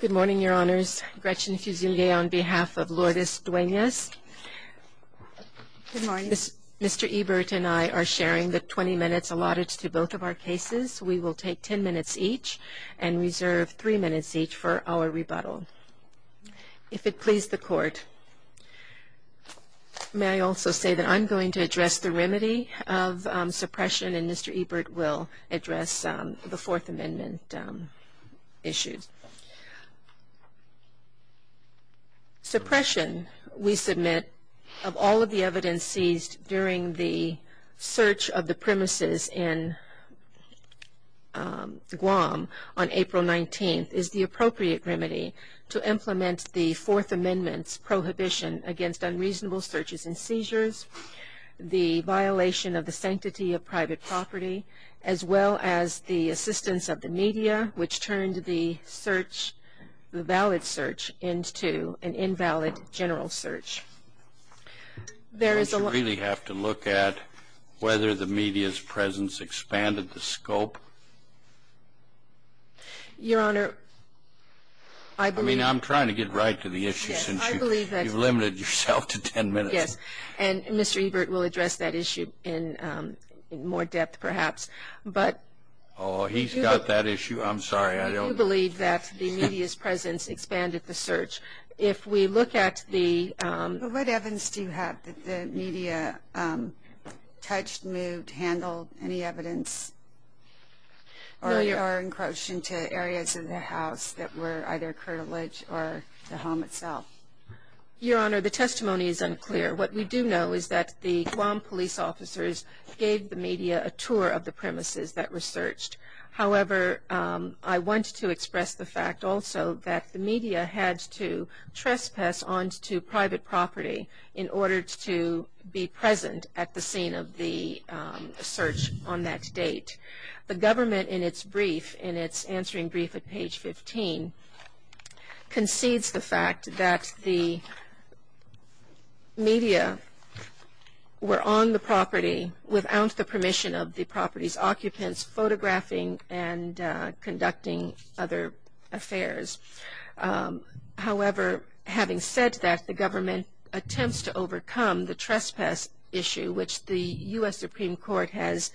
Good morning, Your Honors. Gretchen Fusilier on behalf of Lourdes Duenas. Good morning. Mr. Ebert and I are sharing the 20 minutes allotted to both of our cases. We will take 10 minutes each and reserve 3 minutes each for our rebuttal. If it please the Court, may I also say that I'm going to address the remedy of suppression and Mr. Ebert will address the Fourth Amendment issues. Suppression, we submit, of all of the evidence seized during the search of the premises in Guam on April 19th, is the appropriate remedy to implement the Fourth Amendment's prohibition against unreasonable searches and seizures, the violation of the sanctity of private property, as well as the assistance of the media, which turned the search, the valid search, into an invalid general search. There is a lot... Do you really have to look at whether the media's presence expanded the scope? Your Honor, I believe... I mean, I'm trying to get right to the issue since you've limited yourself to 10 minutes. Yes, and Mr. Ebert will address that issue in more depth, perhaps, but... Oh, he's got that issue. I'm sorry, I don't... I do believe that the media's presence expanded the search. If we look at the... What evidence do you have that the media touched, moved, handled any evidence, or encroached into areas of the house that were either curtilage or the home itself? Your Honor, the testimony is unclear. What we do know is that the Guam police officers gave the media a tour of the premises that were searched. However, I want to express the fact also that the media had to trespass onto private property in order to be present at the scene of the search on that date. The government, in its brief, in its answering brief at page 15, concedes the fact that the media were on the property without the permission of the property's occupants, photographing and conducting other affairs. However, having said that, the government attempts to overcome the trespass issue, which the U.S. Supreme Court has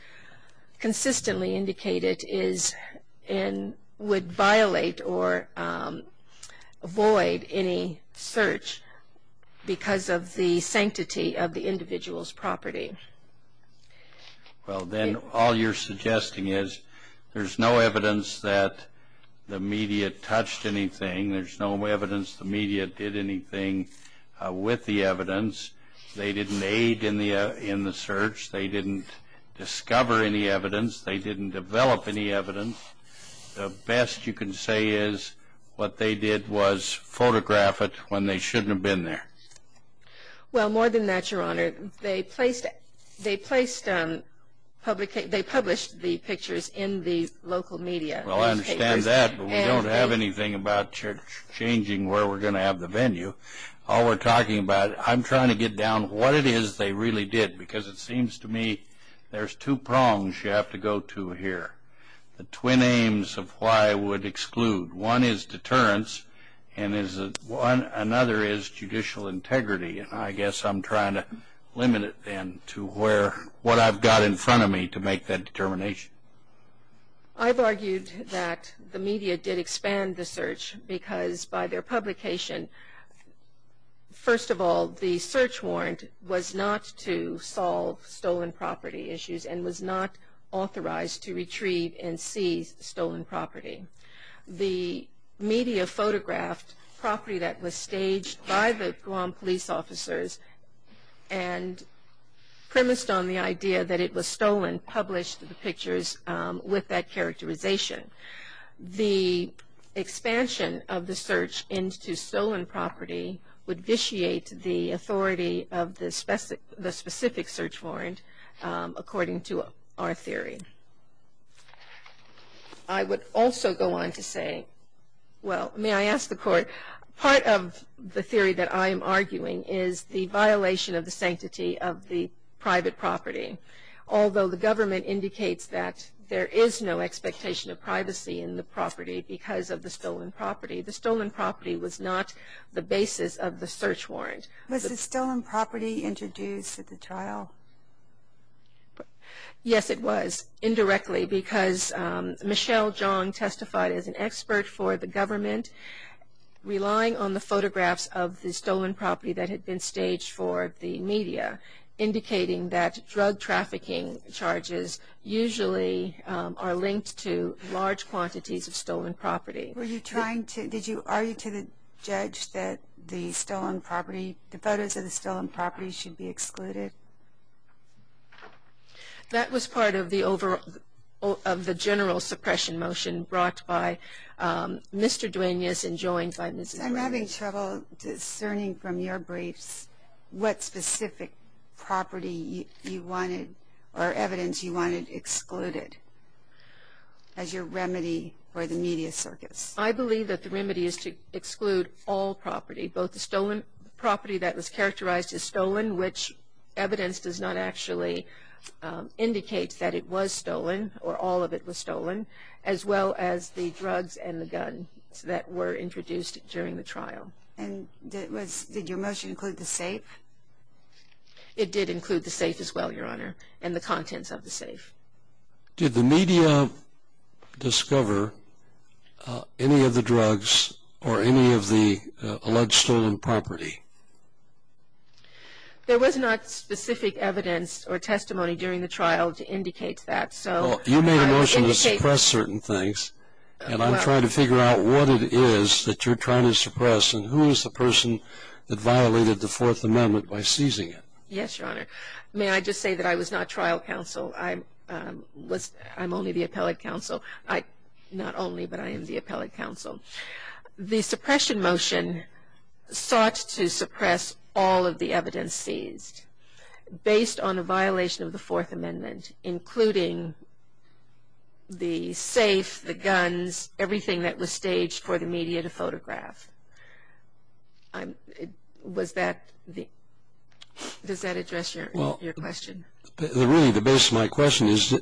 consistently indicated would violate or avoid any search because of the sanctity of the individual's property. Well, then all you're suggesting is there's no evidence that the media touched anything, there's no evidence the media did anything with the evidence, they didn't aid in the search, they didn't discover any evidence, they didn't develop any evidence. The best you can say is what they did was photograph it when they shouldn't have been there. Well, more than that, Your Honor, they published the pictures in the local media. Well, I understand that, but we don't have anything about changing where we're going to have the venue. All we're talking about, I'm trying to get down what it is they really did, because it seems to me there's two prongs you have to go to here, the twin aims of why I would exclude. One is deterrence, and another is judicial integrity, and I guess I'm trying to limit it then to what I've got in front of me to make that determination. I've argued that the media did expand the search because by their publication, first of all, the search warrant was not to solve stolen property issues and was not authorized to retrieve and seize stolen property. The media photographed property that was staged by the Guam police officers and premised on the idea that it was stolen, published the pictures with that characterization. The expansion of the search into stolen property would vitiate the authority of the specific search warrant, according to our theory. I would also go on to say, well, may I ask the Court, part of the theory that I am arguing is the violation of the sanctity of the private property, although the government indicates that there is no expectation of privacy in the property because of the stolen property. The stolen property was not the basis of the search warrant. Was the stolen property introduced at the trial? Yes, it was, indirectly, because Michelle Jong testified as an expert for the government. Relying on the photographs of the stolen property that had been staged for the media, indicating that drug trafficking charges usually are linked to large quantities of stolen property. Were you trying to, did you argue to the judge that the stolen property, the photos of the stolen property should be excluded? That was part of the general suppression motion brought by Mr. Duenas and joined by Ms. Duenas. I'm having trouble discerning from your briefs what specific property you wanted, or evidence you wanted excluded as your remedy for the media circus. I believe that the remedy is to exclude all property, one which evidence does not actually indicate that it was stolen or all of it was stolen, as well as the drugs and the guns that were introduced during the trial. And did your motion include the safe? It did include the safe as well, Your Honor, and the contents of the safe. Did the media discover any of the drugs or any of the alleged stolen property? There was not specific evidence or testimony during the trial to indicate that. You made a motion to suppress certain things, and I'm trying to figure out what it is that you're trying to suppress, and who is the person that violated the Fourth Amendment by seizing it? Yes, Your Honor. May I just say that I was not trial counsel. I'm only the appellate counsel. Not only, but I am the appellate counsel. The suppression motion sought to suppress all of the evidence seized based on a violation of the Fourth Amendment, including the safe, the guns, everything that was staged for the media to photograph. Does that address your question? Really, the base of my question is,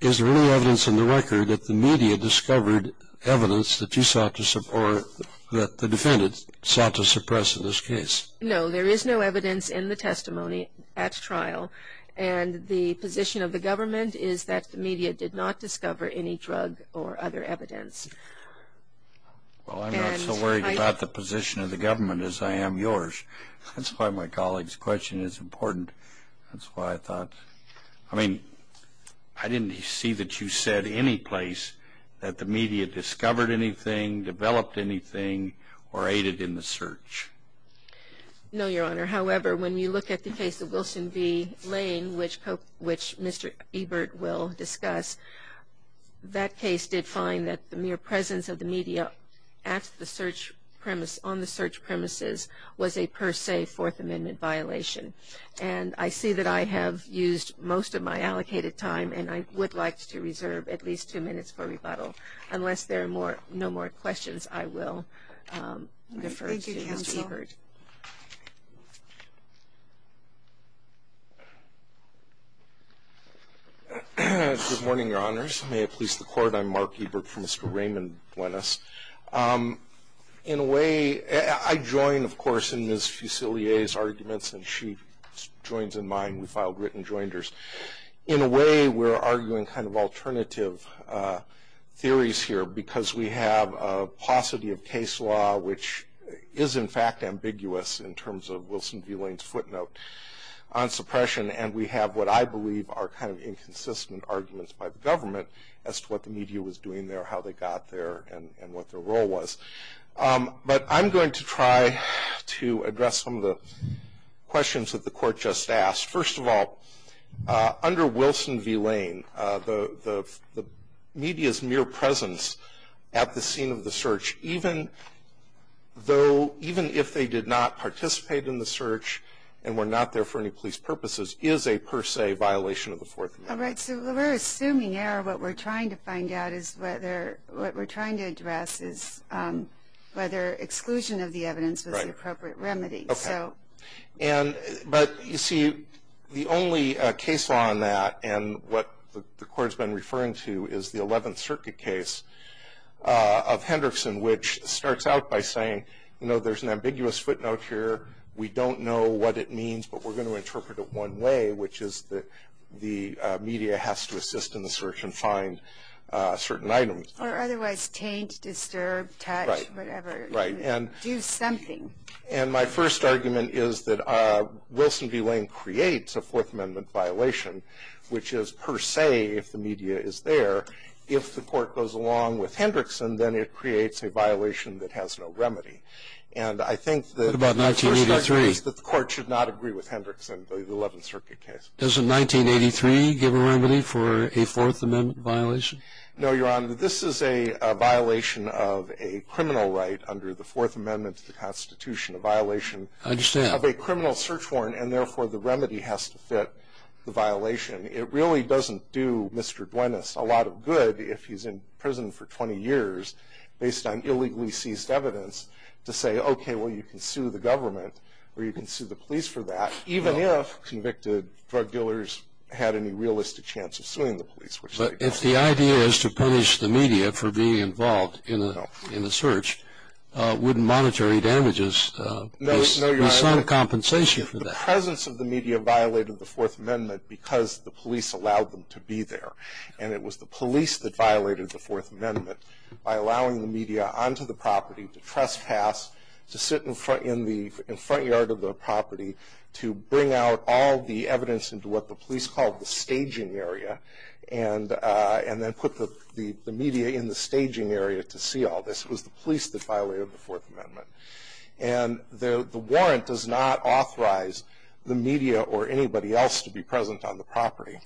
is there any evidence in the record that the media discovered evidence that you sought to support, that the defendant sought to suppress in this case? No, there is no evidence in the testimony at trial, and the position of the government is that the media did not discover any drug or other evidence. Well, I'm not so worried about the position of the government as I am yours. That's why my colleague's question is important. That's why I thought. I mean, I didn't see that you said any place that the media discovered anything, developed anything, or aided in the search. No, Your Honor. However, when you look at the case of Wilson v. Lane, which Mr. Ebert will discuss, that case did find that the mere presence of the media at the search premise, on the search premises, was a per se Fourth Amendment violation. And I see that I have used most of my allocated time, and I would like to reserve at least two minutes for rebuttal. Unless there are no more questions, I will defer to Mr. Ebert. Thank you, counsel. Good morning, Your Honors. May it please the Court. I'm Mark Ebert for Mr. Raymond Buenas. In a way, I join, of course, in Ms. Fusilier's arguments, and she joins in mine. We filed written joinders. In a way, we're arguing kind of alternative theories here, because we have a paucity of case law, which is in fact ambiguous in terms of Wilson v. Lane's footnote on suppression, and we have what I believe are kind of inconsistent arguments by the government as to what the media was doing there, how they got there, and what their role was. But I'm going to try to address some of the questions that the Court just asked. The media's mere presence at the scene of the search, even if they did not participate in the search and were not there for any police purposes, is a per se violation of the Fourth Amendment. Right, so we're assuming here what we're trying to find out is whether what we're trying to address is whether exclusion of the evidence was the appropriate remedy. But you see, the only case law on that, and what the Court's been referring to, is the Eleventh Circuit case of Hendrickson, which starts out by saying, you know, there's an ambiguous footnote here. We don't know what it means, but we're going to interpret it one way, which is that the media has to assist in the search and find certain items. Or otherwise taint, disturb, touch, whatever. Right. Do something. And my first argument is that Wilson v. Lane creates a Fourth Amendment violation, which is per se, if the media is there. If the Court goes along with Hendrickson, then it creates a violation that has no remedy. And I think that the first argument is that the Court should not agree with Hendrickson, the Eleventh Circuit case. Doesn't 1983 give a remedy for a Fourth Amendment violation? No, Your Honor. This is a violation of a criminal right under the Fourth Amendment to the Constitution, a violation of a criminal search warrant, and therefore the remedy has to fit the violation. It really doesn't do Mr. Duenas a lot of good if he's in prison for 20 years, based on illegally seized evidence, to say, okay, well, you can sue the government, or you can sue the police for that, even if convicted drug dealers had any realistic chance of suing the police. But if the idea is to punish the media for being involved in the search, wouldn't monetary damages be some compensation for that? The presence of the media violated the Fourth Amendment because the police allowed them to be there. And it was the police that violated the Fourth Amendment by allowing the media onto the property to trespass, to sit in the front yard of the property to bring out all the evidence into what the police called the staging area, and then put the media in the staging area to see all this. It was the police that violated the Fourth Amendment. And the warrant does not authorize the media or anybody else to be present on the property.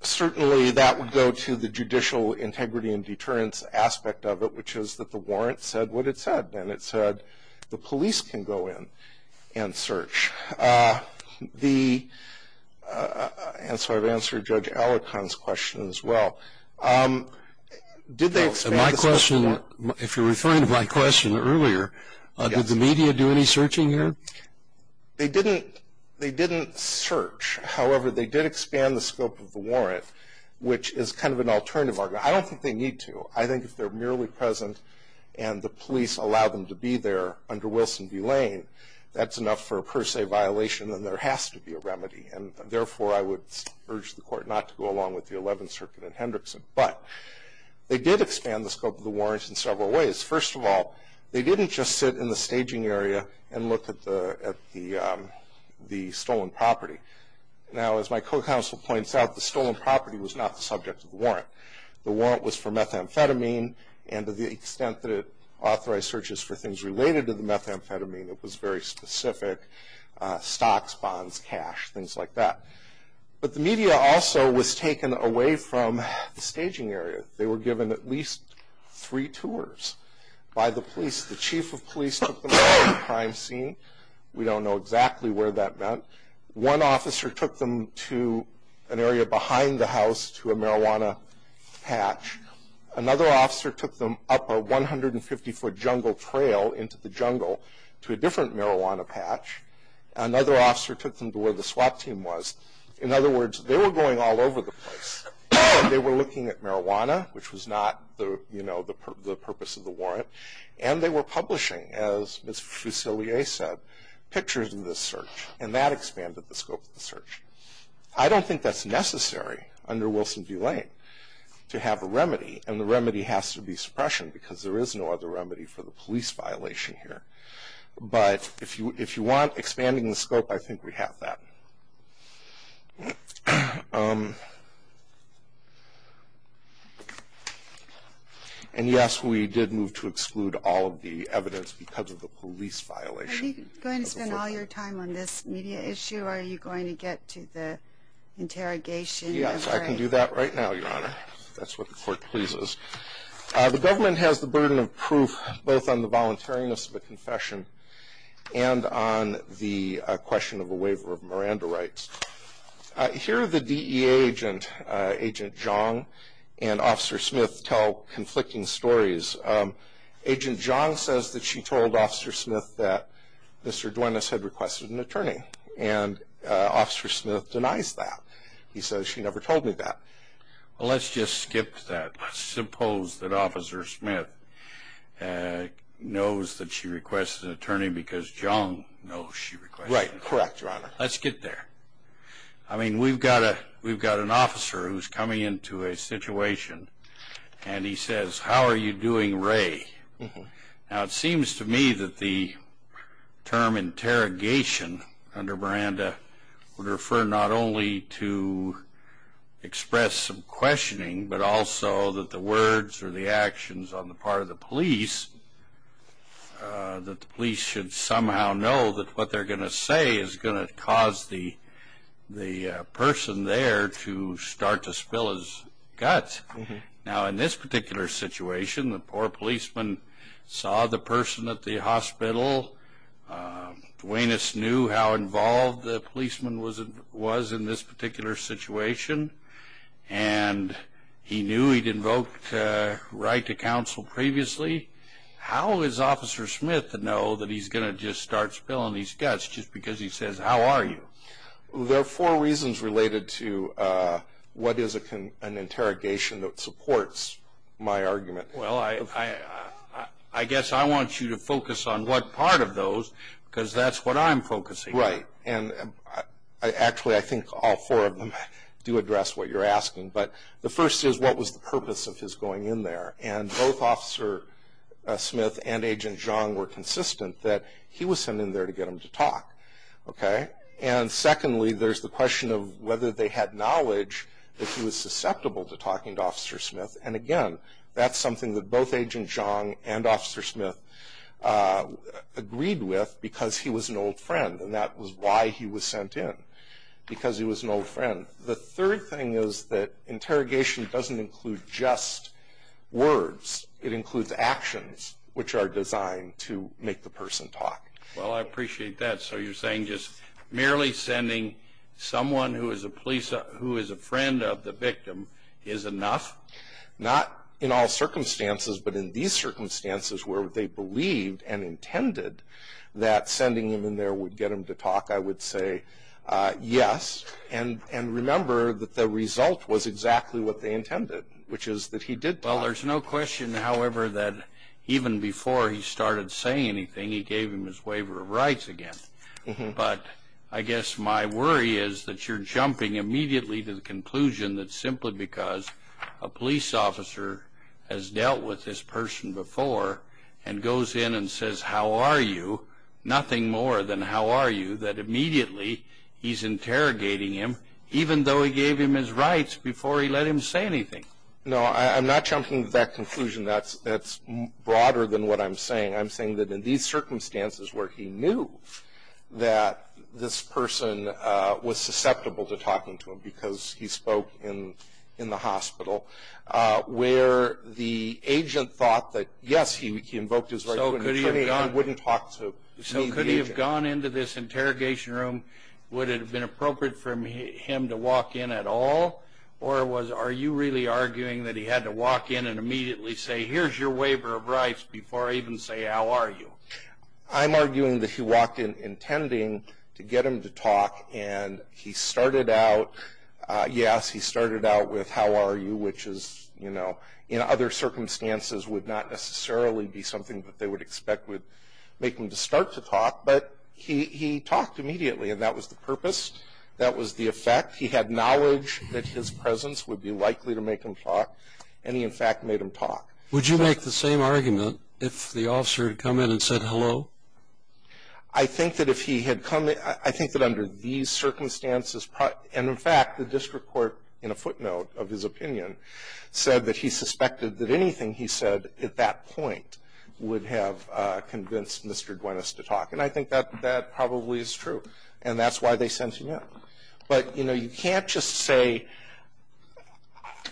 Certainly that would go to the judicial integrity and deterrence aspect of it, which is that the warrant said what it said, and it said the police can go in and search. And so I've answered Judge Allecon's question as well. If you're referring to my question earlier, did the media do any searching here? They didn't search. However, they did expand the scope of the warrant, which is kind of an alternative argument. I don't think they need to. I think if they're merely present and the police allow them to be there under Wilson v. Lane, that's enough for a per se violation and there has to be a remedy. And therefore, I would urge the court not to go along with the Eleventh Circuit and Hendrickson. But they did expand the scope of the warrant in several ways. First of all, they didn't just sit in the staging area and look at the stolen property. Now, as my co-counsel points out, the stolen property was not the subject of the warrant. The warrant was for methamphetamine, and to the extent that it authorized searches for things related to the methamphetamine, it was very specific, stocks, bonds, cash, things like that. But the media also was taken away from the staging area. They were given at least three tours by the police. The chief of police took them to the crime scene. We don't know exactly where that went. One officer took them to an area behind the house to a marijuana patch. Another officer took them up a 150-foot jungle trail into the jungle to a different marijuana patch. Another officer took them to where the swap team was. In other words, they were going all over the place. They were looking at marijuana, which was not the purpose of the warrant, and they were publishing, as Ms. Fusilier said, pictures in the search. And that expanded the scope of the search. I don't think that's necessary under Wilson v. Lane to have a remedy, and the remedy has to be suppression because there is no other remedy for the police violation here. But if you want expanding the scope, I think we have that. And yes, we did move to exclude all of the evidence because of the police violation. Are you going to spend all your time on this media issue, or are you going to get to the interrogation? Yes, I can do that right now, Your Honor, if that's what the court pleases. The government has the burden of proof both on the voluntariness of a confession and on the question of a waiver of Miranda rights. Here the DEA agent, Agent Jong, and Officer Smith tell conflicting stories. Agent Jong says that she told Officer Smith that Mr. Duenas had requested an attorney, and Officer Smith denies that. He says, she never told me that. Well, let's just skip that. Suppose that Officer Smith knows that she requested an attorney because Jong knows she requested one. Right, correct, Your Honor. Let's get there. I mean, we've got an officer who's coming into a situation, and he says, how are you doing, Ray? Now, it seems to me that the term interrogation under Miranda would refer not only to express some questioning, but also that the words or the actions on the part of the police, that the police should somehow know that what they're going to say is going to cause the person there to start to spill his guts. Now, in this particular situation, the poor policeman saw the person at the hospital. Duenas knew how involved the policeman was in this particular situation, and he knew he'd invoked right to counsel previously. How is Officer Smith to know that he's going to just start spilling his guts just because he says, how are you? There are four reasons related to what is an interrogation that supports my argument. Well, I guess I want you to focus on what part of those because that's what I'm focusing on. Right, and actually I think all four of them do address what you're asking, but the first is what was the purpose of his going in there, and both Officer Smith and Agent Jong were consistent that he was sent in there to get him to talk. And secondly, there's the question of whether they had knowledge that he was susceptible to talking to Officer Smith, and again, that's something that both Agent Jong and Officer Smith agreed with because he was an old friend, and that was why he was sent in, because he was an old friend. The third thing is that interrogation doesn't include just words. It includes actions which are designed to make the person talk. Well, I appreciate that. So you're saying just merely sending someone who is a friend of the victim is enough? Not in all circumstances, but in these circumstances where they believed and intended that sending him in there would get him to talk, I would say yes, and remember that the result was exactly what they intended, which is that he did talk. Well, there's no question, however, that even before he started saying anything, he gave him his waiver of rights again. But I guess my worry is that you're jumping immediately to the conclusion that simply because a police officer has dealt with this person before and goes in and says, how are you, nothing more than how are you, that immediately he's interrogating him, even though he gave him his rights before he let him say anything. No, I'm not jumping to that conclusion. That's broader than what I'm saying. I'm saying that in these circumstances where he knew that this person was susceptible to talking to him because he spoke in the hospital, where the agent thought that, yes, he invoked his rights, he wouldn't talk to the agent. So could he have gone into this interrogation room? Would it have been appropriate for him to walk in at all? Or are you really arguing that he had to walk in and immediately say, here's your waiver of rights before I even say how are you? I'm arguing that he walked in intending to get him to talk. And he started out, yes, he started out with how are you, which is, you know, in other circumstances would not necessarily be something that they would expect would make him to start to talk. But he talked immediately, and that was the purpose. That was the effect. He had knowledge that his presence would be likely to make him talk, and he, in fact, made him talk. Would you make the same argument if the officer had come in and said hello? I think that if he had come in – I think that under these circumstances – and, in fact, the district court, in a footnote of his opinion, said that he suspected that anything he said at that point would have convinced Mr. Duenas to talk. And I think that probably is true, and that's why they sent him in. But, you know, you can't just say,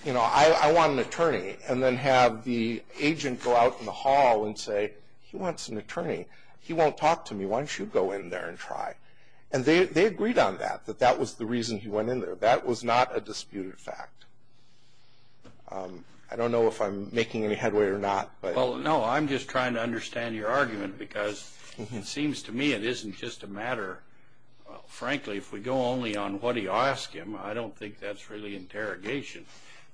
you know, I want an attorney, and then have the agent go out in the hall and say he wants an attorney. He won't talk to me. Why don't you go in there and try? And they agreed on that, that that was the reason he went in there. That was not a disputed fact. I don't know if I'm making any headway or not. Well, no, I'm just trying to understand your argument because it seems to me it isn't just a matter – frankly, if we go only on what he asked him, I don't think that's really interrogation.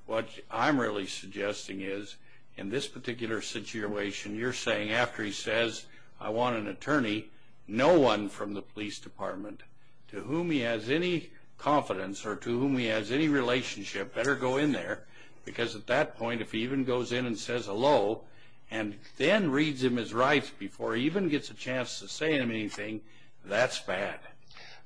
What I'm really suggesting is, in this particular situation, you're saying after he says, I want an attorney, no one from the police department to whom he has any confidence or to whom he has any relationship better go in there because at that point, if he even goes in and says hello and then reads him his rights before he even gets a chance to say anything, that's bad.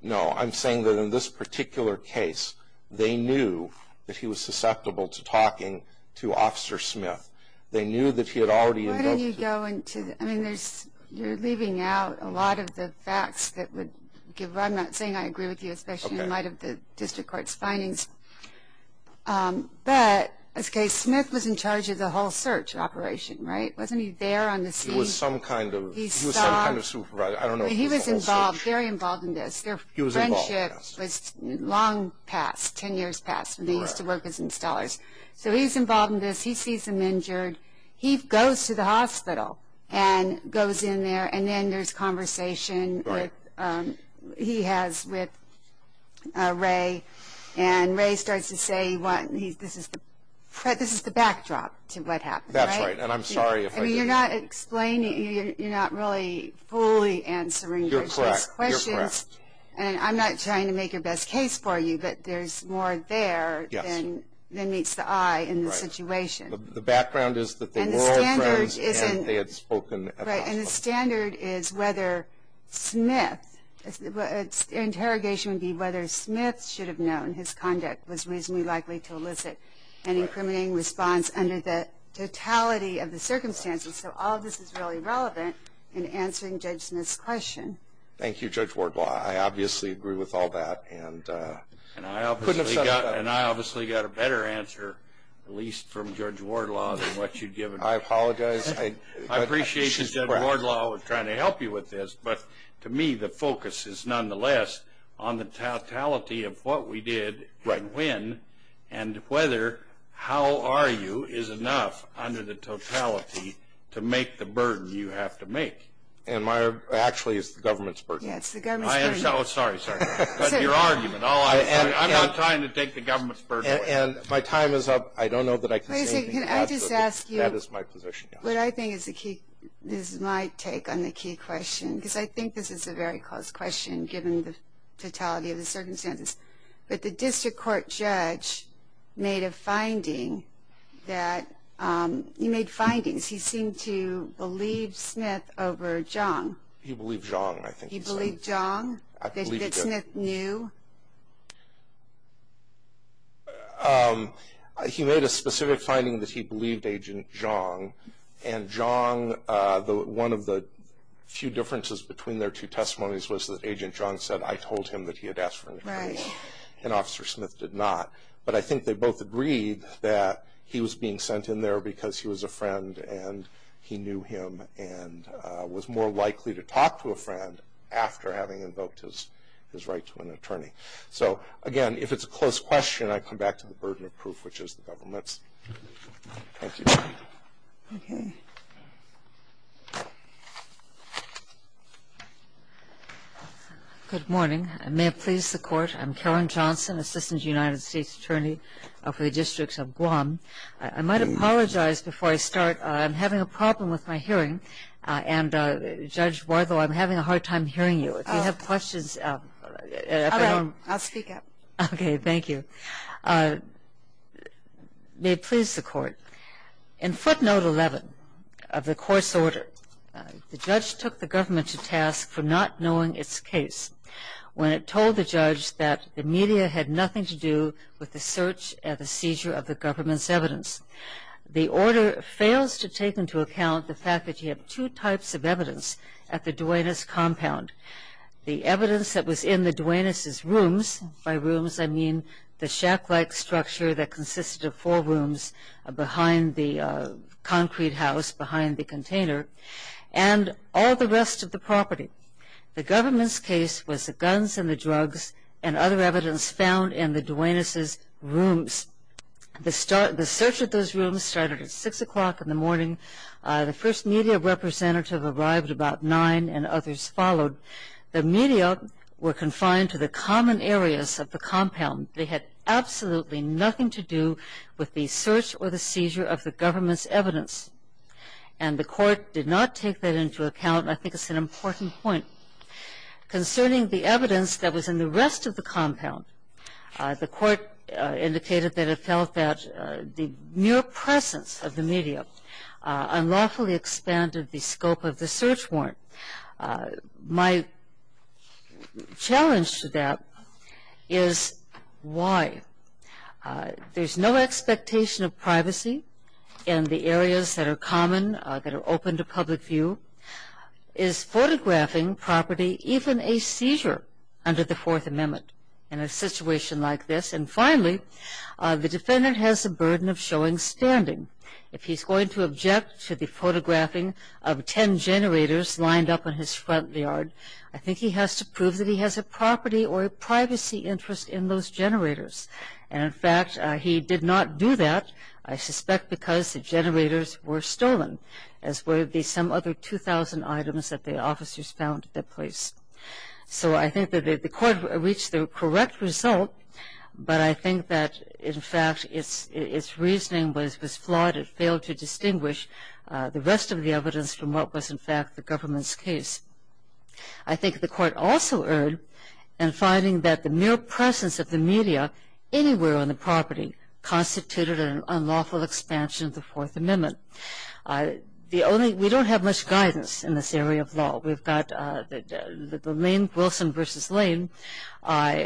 No, I'm saying that in this particular case, they knew that he was susceptible to talking to Officer Smith. They knew that he had already – Why don't you go into – I mean, you're leaving out a lot of the facts that would give – I'm not saying I agree with you, especially in light of the district court's findings. But, in this case, Smith was in charge of the whole search operation, right? Wasn't he there on the scene? He was some kind of supervisor. He was involved, very involved in this. Their friendship was long past, 10 years past, when he used to work as installers. So he's involved in this, he sees him injured, he goes to the hospital and goes in there and then there's conversation he has with Ray. And Ray starts to say, this is the backdrop to what happened, right? That's right, and I'm sorry if I didn't – You're not explaining – you're not really fully answering those questions. You're correct, you're correct. And I'm not trying to make your best case for you, but there's more there than meets the eye in this situation. The background is that they were all friends and they had spoken at the hospital. Right, and the standard is whether Smith – the interrogation would be whether Smith should have known his conduct was reasonably likely to elicit an incriminating response under the totality of the circumstances. So all of this is really relevant in answering Judge Smith's question. Thank you, Judge Wardlaw. I obviously agree with all that. And I obviously got a better answer, at least from Judge Wardlaw, than what you'd given me. I apologize. I appreciate that Judge Wardlaw was trying to help you with this, but to me the focus is nonetheless on the totality of what we did, when, and whether how are you is enough under the totality to make the burden you have to make. And my – actually, it's the government's burden. Yeah, it's the government's burden. I understand. Oh, sorry, sorry. Your argument. I'm not trying to take the government's burden away. And my time is up. I don't know that I can say anything else. Let me just ask you what I think is my take on the key question, because I think this is a very close question given the totality of the circumstances. But the district court judge made a finding that – he made findings. He seemed to believe Smith over Zhang. He believed Zhang, I think he said. He believed Zhang? I believe he did. That Smith knew? He made a specific finding that he believed Agent Zhang. And Zhang, one of the few differences between their two testimonies was that Agent Zhang said, I told him that he had asked for an attorney. Right. And Officer Smith did not. But I think they both agreed that he was being sent in there because he was a friend and he knew him and was more likely to talk to a friend after having invoked his right to an attorney. So, again, if it's a close question, I come back to the burden of proof, which is the government's. Thank you. Okay. Good morning. May it please the Court. I'm Karen Johnson, Assistant United States Attorney for the Districts of Guam. I might apologize before I start. I'm having a problem with my hearing. And, Judge Bardo, I'm having a hard time hearing you. If you have questions. All right. I'll speak up. Okay. Thank you. May it please the Court. In footnote 11 of the course order, the judge took the government to task for not knowing its case when it told the judge that the media had nothing to do with the search and the seizure of the government's evidence. The order fails to take into account the fact that you have two types of evidence at the Duenas compound. The evidence that was in the Duenas' rooms, by rooms I mean the shack-like structure that consisted of four rooms behind the concrete house, behind the container, and all the rest of the property. The government's case was the guns and the drugs and other evidence found in the Duenas' rooms. The search of those rooms started at 6 o'clock in the morning. The first media representative arrived about 9 and others followed. The media were confined to the common areas of the compound. They had absolutely nothing to do with the search or the seizure of the government's evidence. And the Court did not take that into account. I think it's an important point. Concerning the evidence that was in the rest of the compound, the Court indicated that it felt that the mere presence of the media unlawfully expanded the scope of the search warrant. My challenge to that is why. There's no expectation of privacy in the areas that are common, that are open to public view. Is photographing property even a seizure under the Fourth Amendment in a situation like this? And finally, the defendant has the burden of showing standing. If he's going to object to the photographing of ten generators lined up in his front yard, I think he has to prove that he has a property or a privacy interest in those generators. And, in fact, he did not do that, I suspect because the generators were stolen, as were the some other 2,000 items that the officers found at that place. So I think that the Court reached the correct result, but I think that, in fact, its reasoning was flawed. It failed to distinguish the rest of the evidence from what was, in fact, the government's case. I think the Court also erred in finding that the mere presence of the media anywhere on the property constituted an unlawful expansion of the Fourth Amendment. We don't have much guidance in this area of law. We've got the Lane-Wilson v. Lane,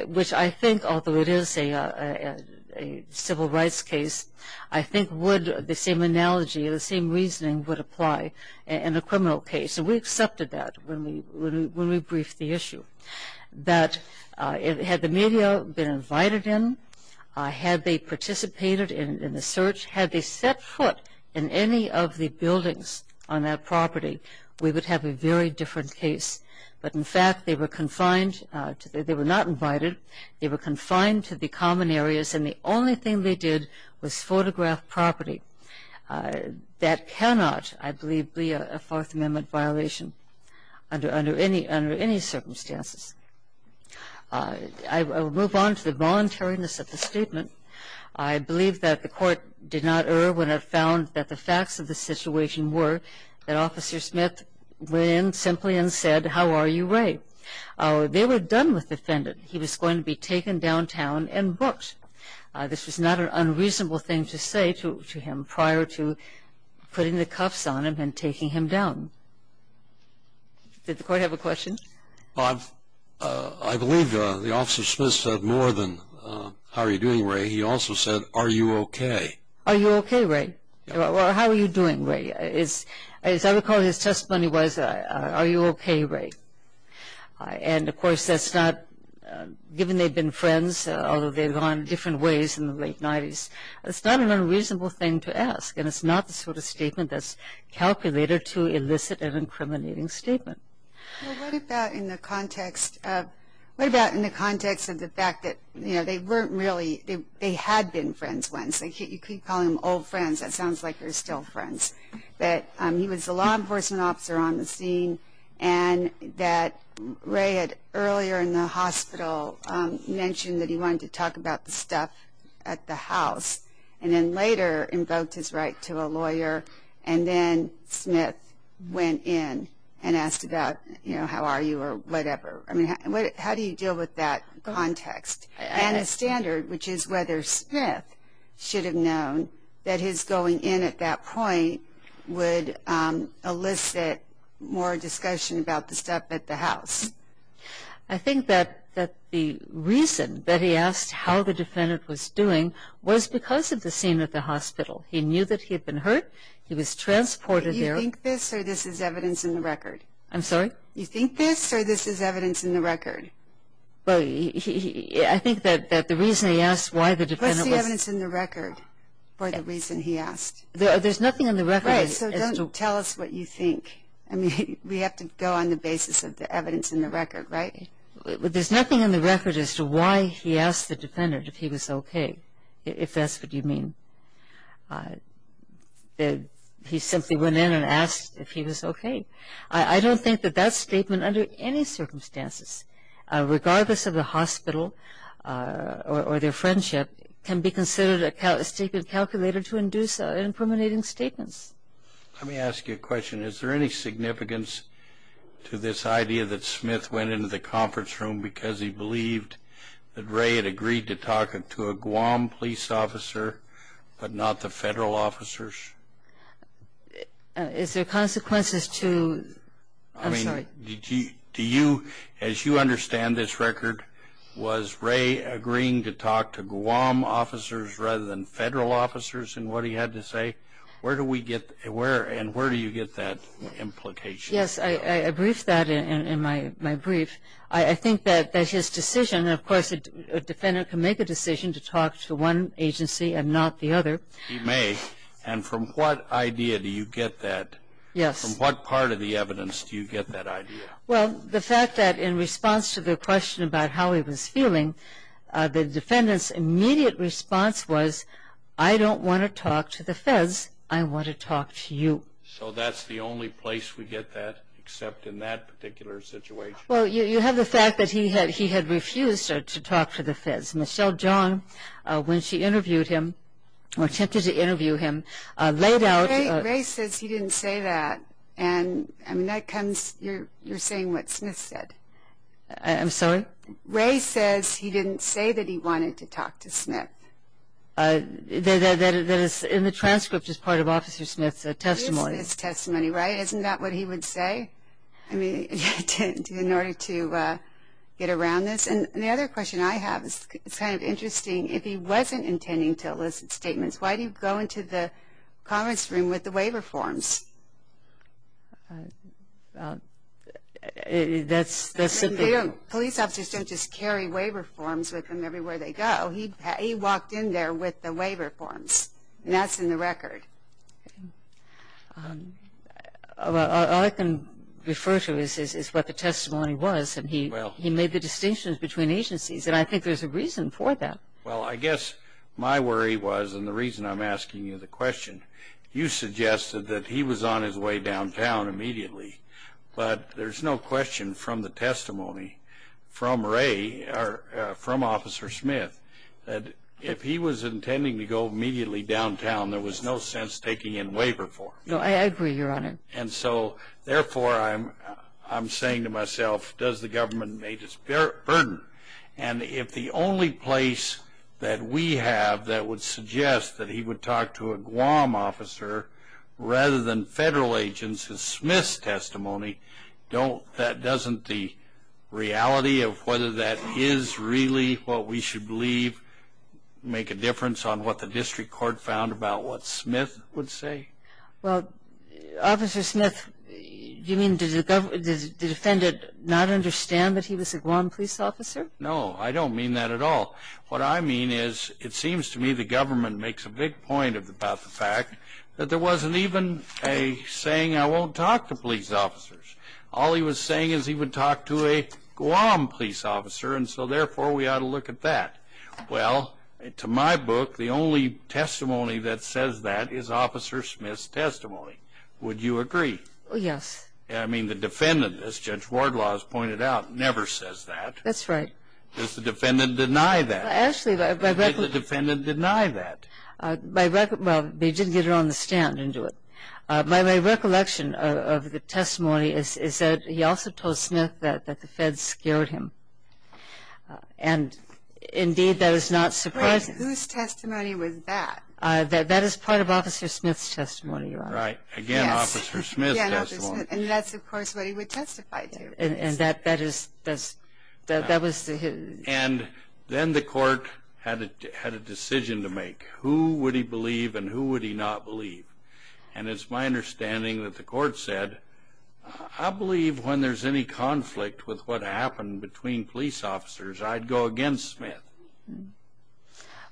which I think, although it is a civil rights case, I think would, the same analogy, the same reasoning would apply in a criminal case. And we accepted that when we briefed the issue. That had the media been invited in, had they participated in the search, had they set foot in any of the buildings on that property, we would have a very different case. But, in fact, they were confined, they were not invited, they were confined to the common areas, and the only thing they did was photograph property. That cannot, I believe, be a Fourth Amendment violation under any circumstances. I will move on to the voluntariness of the statement. I believe that the Court did not err when it found that the facts of the situation were that Officer Smith went in simply and said, how are you, Ray? They were done with the defendant. He was going to be taken downtown and booked. This was not an unreasonable thing to say to him prior to putting the cuffs on him and taking him down. Did the Court have a question? I believe the Officer Smith said more than, how are you doing, Ray? He also said, are you okay? Are you okay, Ray? How are you doing, Ray? As I recall, his testimony was, are you okay, Ray? And, of course, that's not, given they've been friends, although they've gone different ways in the late 90s, it's not an unreasonable thing to ask, and it's not the sort of statement that's calculated to elicit an incriminating statement. Well, what about in the context of, what about in the context of the fact that, you know, they weren't really, they had been friends once. You keep calling them old friends. That sounds like they're still friends. But he was a law enforcement officer on the scene, and that Ray had earlier in the hospital mentioned that he wanted to talk about the stuff at the house, and then later invoked his right to a lawyer, and then Smith went in and asked about, you know, how are you or whatever. I mean, how do you deal with that context? And a standard, which is whether Smith should have known that his going in at that point would elicit more discussion about the stuff at the house. I think that the reason that he asked how the defendant was doing was because of the scene at the hospital. He knew that he had been hurt. He was transported there. Do you think this or this is evidence in the record? I'm sorry? Do you think this or this is evidence in the record? Well, I think that the reason he asked why the defendant was... What's the evidence in the record for the reason he asked? There's nothing in the record... Right, so tell us what you think. I mean, we have to go on the basis of the evidence in the record, right? There's nothing in the record as to why he asked the defendant if he was okay, if that's what you mean. He simply went in and asked if he was okay. I don't think that that statement under any circumstances, regardless of the hospital or their friendship, can be considered a statement calculated to induce implementing statements. Let me ask you a question. Is there any significance to this idea that Smith went into the conference room because he believed that Ray had agreed to talk to a Guam police officer but not the federal officers? Is there consequences to... I'm sorry? I mean, do you... as you understand this record, was Ray agreeing to talk to Guam officers rather than federal officers in what he had to say? Where do we get... and where do you get that implication? Yes, I briefed that in my brief. I think that that's his decision. Of course, a defendant can make a decision to talk to one agency and not the other. He may. And from what idea do you get that? From what part of the evidence do you get that idea? Well, the fact that in response to the question about how he was feeling, the defendant's immediate response was, I don't want to talk to the feds, I want to talk to you. So that's the only place we get that except in that particular situation? Well, you have the fact that he had refused to talk to the feds. Michelle John, when she interviewed him or attempted to interview him, laid out... Ray says he didn't say that, and that comes... you're saying what Smith said. I'm sorry? Ray says he didn't say that he wanted to talk to Smith. That is in the transcript as part of Officer Smith's testimony. It is Smith's testimony, right? Isn't that what he would say in order to get around this? And the other question I have is kind of interesting. If he wasn't intending to elicit statements, why did he go into the conference room with the waiver forms? That's simply... Police officers don't just carry waiver forms with them everywhere they go. He walked in there with the waiver forms, and that's in the record. All I can refer to is what the testimony was. He made the distinctions between agencies, and I think there's a reason for that. Well, I guess my worry was, and the reason I'm asking you the question, you suggested that he was on his way downtown immediately, but there's no question from the testimony from Ray or from Officer Smith that if he was intending to go immediately downtown, there was no sense taking in waiver forms. No, I agree, Your Honor. And so, therefore, I'm saying to myself, does the government make this a burden? And if the only place that we have that would suggest that he would talk to a Guam officer rather than federal agents is Smith's testimony, that doesn't the reality of whether that is really what we should believe make a difference on what the district court found about what Smith would say? Well, Officer Smith, you mean does the defendant not understand that he was a Guam police officer? No, I don't mean that at all. What I mean is it seems to me the government makes a big point about the fact that there wasn't even a saying, I won't talk to police officers. All he was saying is he would talk to a Guam police officer, and so, therefore, we ought to look at that. Well, to my book, the only testimony that says that is Officer Smith's testimony. Would you agree? Yes. I mean, the defendant, as Judge Wardlaw has pointed out, never says that. That's right. Does the defendant deny that? Actually, my recollection. Did the defendant deny that? Well, they didn't get it on the stand, they didn't do it. My recollection of the testimony is that he also told Smith that the feds scared him. And, indeed, that is not surprising. Wait, whose testimony was that? That is part of Officer Smith's testimony, Your Honor. Right, again, Officer Smith's testimony. And that's, of course, what he would testify to. And that was his. And then the court had a decision to make. Who would he believe and who would he not believe? And it's my understanding that the court said, I believe when there's any conflict with what happened between police officers, I'd go against Smith.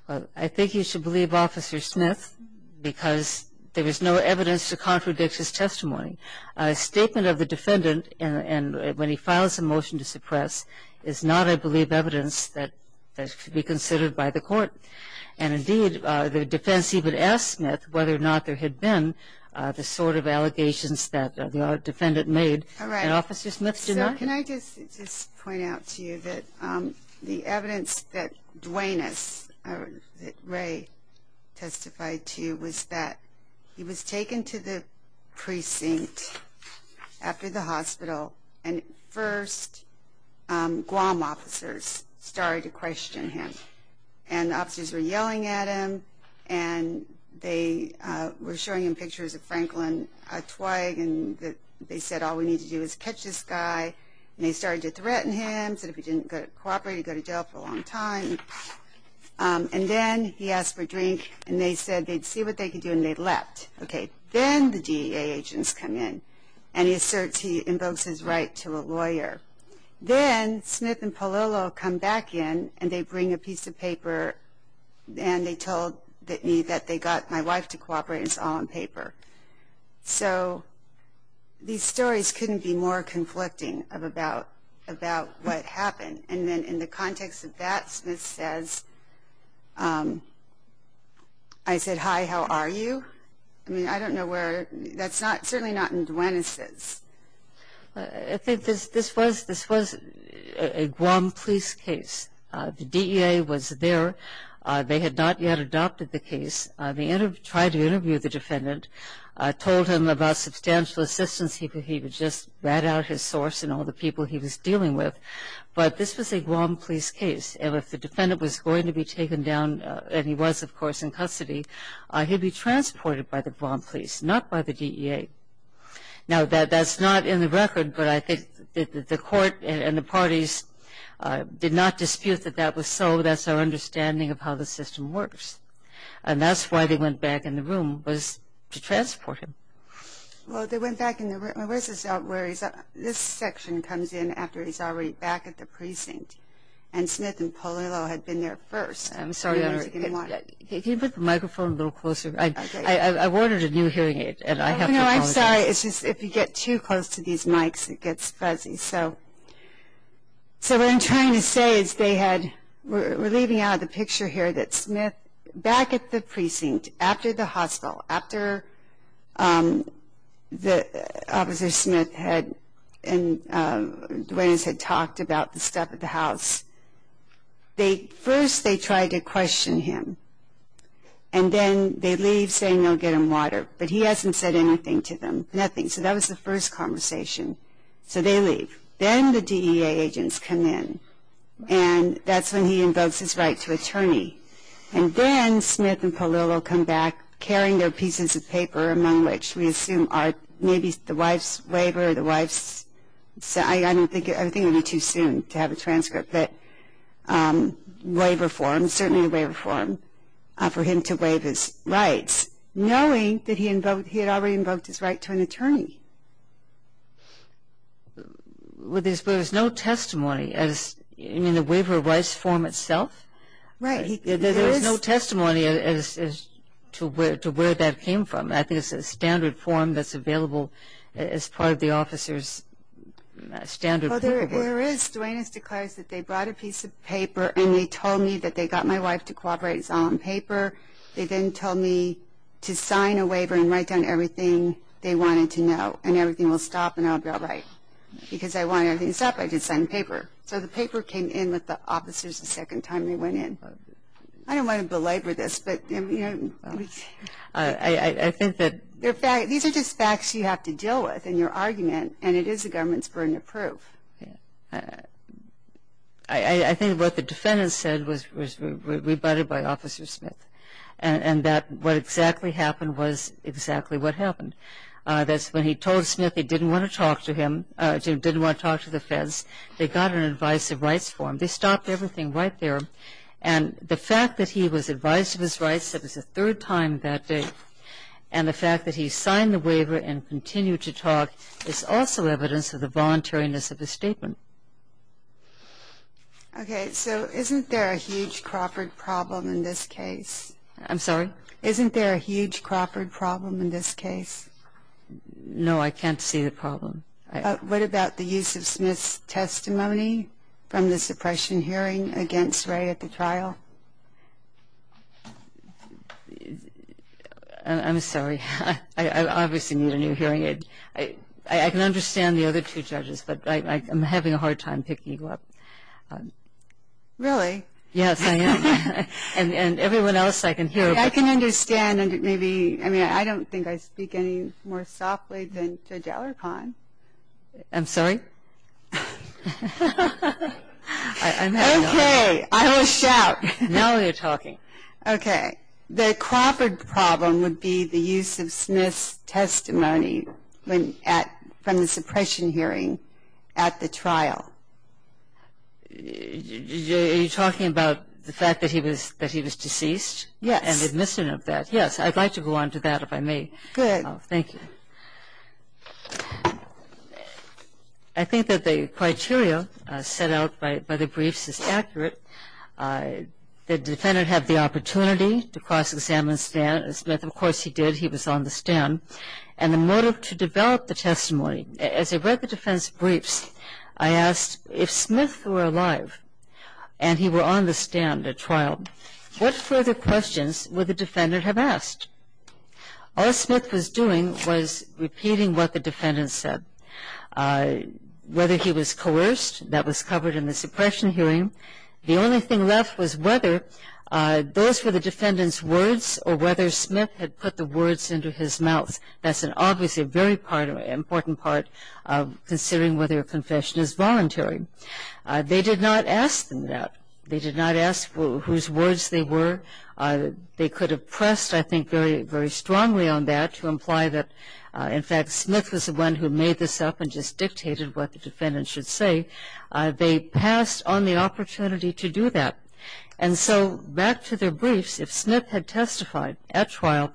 Well, I think you should believe Officer Smith because there is no evidence to contradict his testimony. A statement of the defendant when he files a motion to suppress is not, I believe, evidence that should be considered by the court. And, indeed, the defense even asked Smith whether or not there had been the sort of allegations that the defendant made, and Officer Smith did not. So can I just point out to you that the evidence that Duanus, that Ray testified to, was that he was taken to the precinct after the hospital and first Guam officers started to question him. And the officers were yelling at him, and they were showing him pictures of Franklin Twigg, and they said, all we need to do is catch this guy. And they started to threaten him, said if he didn't cooperate, he'd go to jail for a long time. And then he asked for a drink, and they said they'd see what they could do, and they left. Okay, then the DEA agents come in, and he asserts he invokes his right to a lawyer. Then Smith and Polillo come back in, and they bring a piece of paper, and they told me that they got my wife to cooperate, and it's all on paper. So these stories couldn't be more conflicting about what happened. And then in the context of that, Smith says, I said, hi, how are you? I mean, I don't know where – that's certainly not in Duanus's. I think this was a Guam police case. The DEA was there. They had not yet adopted the case. They tried to interview the defendant, told him about substantial assistance. He had just read out his source and all the people he was dealing with. But this was a Guam police case, and if the defendant was going to be taken down, and he was, of course, in custody, he'd be transported by the Guam police, not by the DEA. Now, that's not in the record, but I think the court and the parties did not dispute that that was so. That's our understanding of how the system works. And that's why they went back in the room, was to transport him. Well, they went back in the room. This section comes in after he's already back at the precinct, and Smith and Polillo had been there first. I'm sorry. Can you put the microphone a little closer? I ordered a new hearing aid, and I have to apologize. I'm sorry. It's just if you get too close to these mics, it gets fuzzy. So what I'm trying to say is they had – we're leaving out of the picture here that Smith, back at the precinct, after the hospital, after Officer Smith and Duenas had talked about the stuff at the house, first they tried to question him, and then they leave saying they'll get him water. But he hasn't said anything to them, nothing. So that was the first conversation. So they leave. Then the DEA agents come in, and that's when he invokes his right to attorney. And then Smith and Polillo come back carrying their pieces of paper, among which we assume are maybe the wife's waiver or the wife's – I think it would be too soon to have a transcript, but waiver forms, certainly the waiver form for him to waive his rights, knowing that he had already invoked his right to an attorney. But there's no testimony. I mean, the waiver of rights form itself? Right. There is no testimony as to where that came from. I think it's a standard form that's available as part of the officer's standard form. Well, there is. First, Duane has declared that they brought a piece of paper, and they told me that they got my wife to cooperate on paper. They then told me to sign a waiver and write down everything they wanted to know, and everything will stop and I'll be all right. Because I wanted everything to stop, I just signed the paper. So the paper came in with the officers the second time they went in. I don't want to belabor this, but, you know. I think that – These are just facts you have to deal with in your argument, and it is the government's burden of proof. I think what the defendant said was rebutted by Officer Smith, and that what exactly happened was exactly what happened. That's when he told Smith he didn't want to talk to him, didn't want to talk to the feds, they got an advice of rights form. They stopped everything right there. And the fact that he was advised of his rights, that was the third time that day, And the fact that he signed the waiver and continued to talk is also evidence of the voluntariness of his statement. Okay. So isn't there a huge Crawford problem in this case? I'm sorry? Isn't there a huge Crawford problem in this case? No, I can't see the problem. What about the use of Smith's testimony from the suppression hearing against Ray at the trial? I'm sorry. I obviously need a new hearing aid. I can understand the other two judges, but I'm having a hard time picking you up. Really? Yes, I am. And everyone else I can hear about. I can understand. I mean, I don't think I speak any more softly than to Dallarpon. I'm sorry? Okay. I will shout. Now you're talking. Okay. The Crawford problem would be the use of Smith's testimony from the suppression hearing at the trial. Are you talking about the fact that he was deceased? Yes. And the admission of that. Yes. I'd like to go on to that, if I may. Good. Thank you. I think that the criteria set out by the briefs is accurate. The defendant had the opportunity to cross-examine Smith. Of course he did. He was on the stand. And the motive to develop the testimony, as I read the defense briefs, I asked if Smith were alive and he were on the stand at trial, what further questions would the defendant have asked? All Smith was doing was repeating what the defendant said. Whether he was coerced, that was covered in the suppression hearing. The only thing left was whether those were the defendant's words or whether Smith had put the words into his mouth. That's obviously a very important part of considering whether a confession is voluntary. They did not ask them that. They did not ask whose words they were. They could have pressed, I think, very strongly on that to imply that, in fact, Smith was the one who made this up and just dictated what the defendant should say. They passed on the opportunity to do that. And so back to their briefs, if Smith had testified at trial,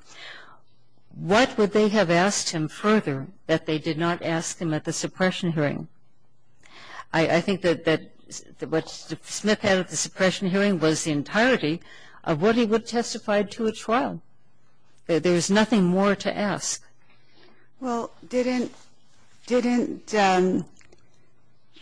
what would they have asked him further that they did not ask him at the suppression hearing? I think that what Smith had at the suppression hearing was the entirety of what he would have testified to at trial. There was nothing more to ask. Well, didn't the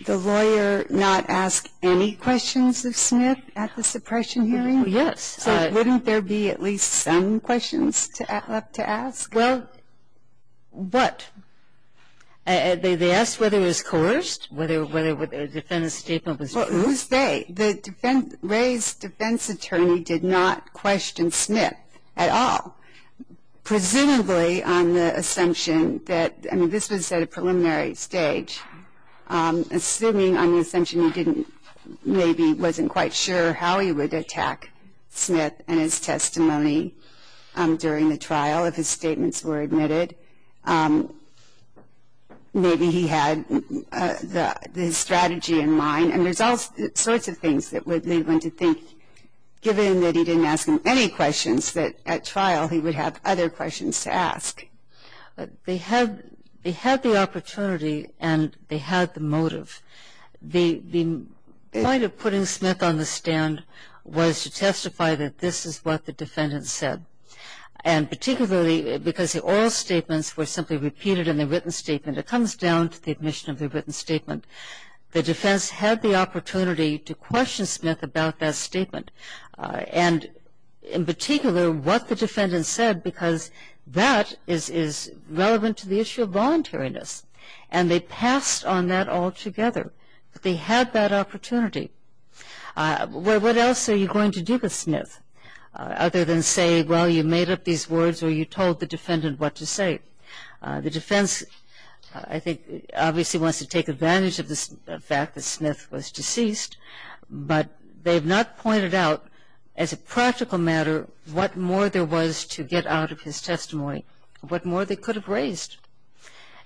lawyer not ask any questions of Smith at the suppression hearing? Yes. So wouldn't there be at least some questions left to ask? Well, what? They asked whether it was coerced, whether a defense statement was coerced. Well, who's they? Ray's defense attorney did not question Smith at all. Presumably on the assumption that, I mean, this was at a preliminary stage, assuming on the assumption he maybe wasn't quite sure how he would attack Smith and his testimony during the trial if his statements were admitted. Maybe he had the strategy in mind. And there's all sorts of things that would lead one to think, given that he didn't ask him any questions, that at trial he would have other questions to ask. They had the opportunity and they had the motive. The point of putting Smith on the stand was to testify that this is what the defendant said. And particularly because all statements were simply repeated in the written statement. It comes down to the admission of the written statement. The defense had the opportunity to question Smith about that statement and in particular what the defendant said because that is relevant to the issue of voluntariness. And they passed on that all together. They had that opportunity. What else are you going to do with Smith other than say, well, you made up these words or you told the defendant what to say? The defense, I think, obviously wants to take advantage of the fact that Smith was deceased, but they've not pointed out as a practical matter what more there was to get out of his testimony, what more they could have raised.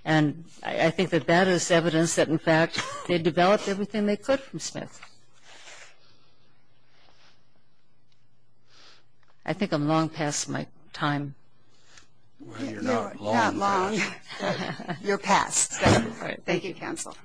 And I think that that is evidence that, in fact, they developed everything they could from Smith. I think I'm long past my time. Well, you're not long. Thank you, counsel.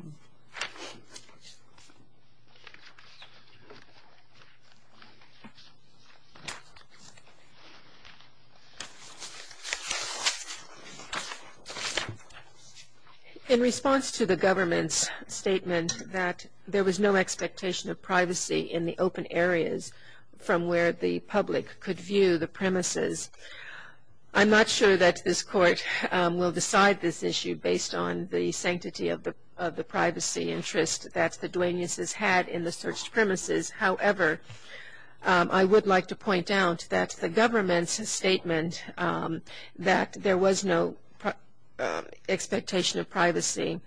In response to the government's statement that there was no expectation of privacy in the open areas from where the public could view the premises, I'm not sure that this Court will decide this issue based on the sanctity of the premises. However, I would like to point out that the government's statement that there was no expectation of privacy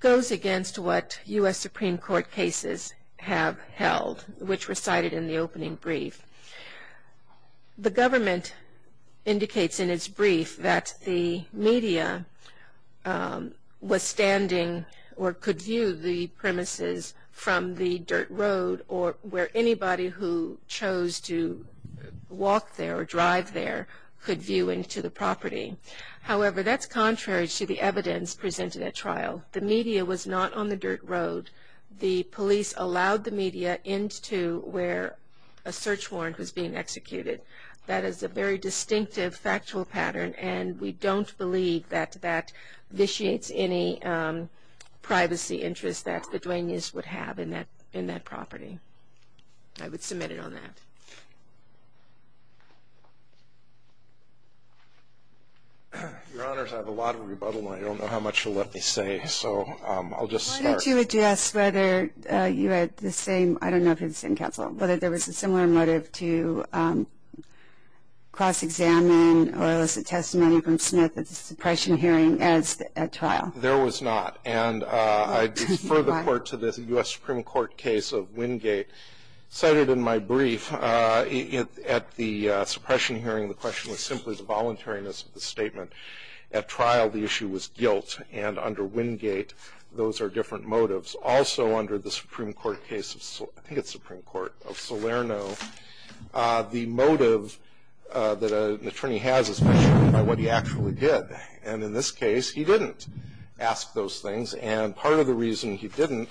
goes against what U.S. Supreme Court cases have held, which recited in the opening brief. The government indicates in its brief that the media was standing in the open areas or could view the premises from the dirt road or where anybody who chose to walk there or drive there could view into the property. However, that's contrary to the evidence presented at trial. The media was not on the dirt road. The police allowed the media into where a search warrant was being executed. That is a very distinctive factual pattern, and we don't believe that that vitiates any privacy interests that the Duenas would have in that property. I would submit it on that. Your Honors, I have a lot of rebuttal. I don't know how much to let this say, so I'll just start. I wanted to address whether you had the same, I don't know if it's in counsel, whether there was a similar motive to cross-examine or elicit testimony from Smith at the suppression hearing as at trial. There was not, and I defer the court to the U.S. Supreme Court case of Wingate. Cited in my brief, at the suppression hearing, the question was simply the voluntariness of the statement. At trial, the issue was guilt, and under Wingate, those are different motives. Also, under the Supreme Court case of, I think it's Supreme Court, of Salerno, the motive that an attorney has is measured by what he actually did. And in this case, he didn't ask those things, and part of the reason he didn't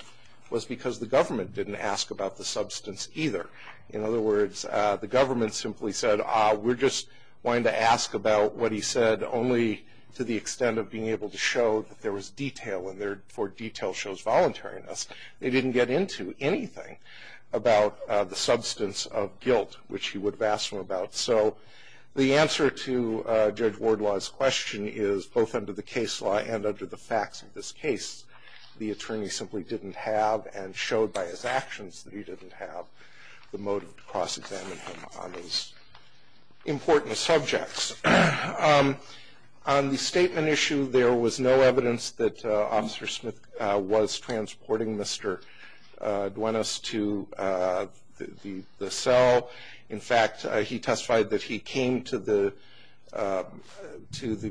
was because the government didn't ask about the substance either. In other words, the government simply said, we're just wanting to ask about what he said only to the extent of being able to show that there was detail, and therefore, detail shows voluntariness. They didn't get into anything about the substance of guilt, which he would have asked them about. So the answer to Judge Wardlaw's question is, both under the case law and under the facts of this case, the attorney simply didn't have, and showed by his actions that he didn't have, the motive to cross-examine him on these important subjects. On the statement issue, there was no evidence that Officer Smith was transporting Mr. Duenas to the cell. In fact, he testified that he came to the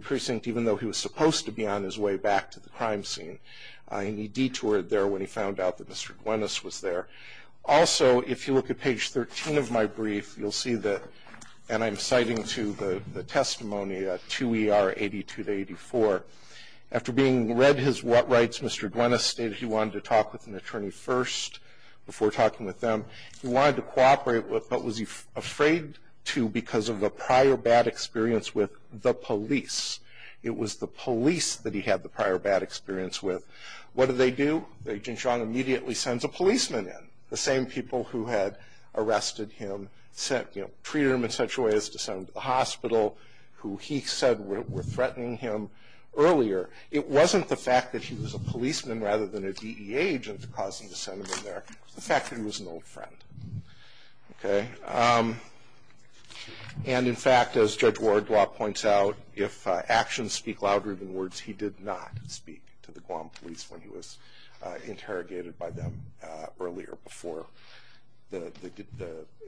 precinct, even though he was supposed to be on his way back to the crime scene, and he detoured there when he found out that Mr. Duenas was there. Also, if you look at page 13 of my brief, you'll see that, and I'm citing to the testimony, 2 ER 82-84. After being read his what rights, Mr. Duenas stated he wanted to talk with an attorney first, before talking with them. He wanted to cooperate, but was afraid to because of a prior bad experience with the police. It was the police that he had the prior bad experience with. What did they do? Agent Chong immediately sends a policeman in. The same people who had arrested him, treated him in such a way as to send him to the hospital, who he said were threatening him earlier. It wasn't the fact that he was a policeman, rather than a DEA agent, that caused him to send him in there. It was the fact that he was an old friend. Okay? And in fact, as Judge Wardlaw points out, if actions speak loud-roving words, he did not speak to the Guam police when he was interrogated by them earlier, before the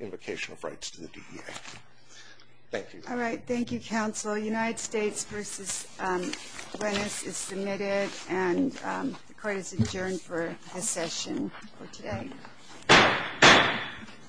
invocation of rights to the DEA. Thank you. All right. Thank you, counsel. United States v. Duenas is submitted,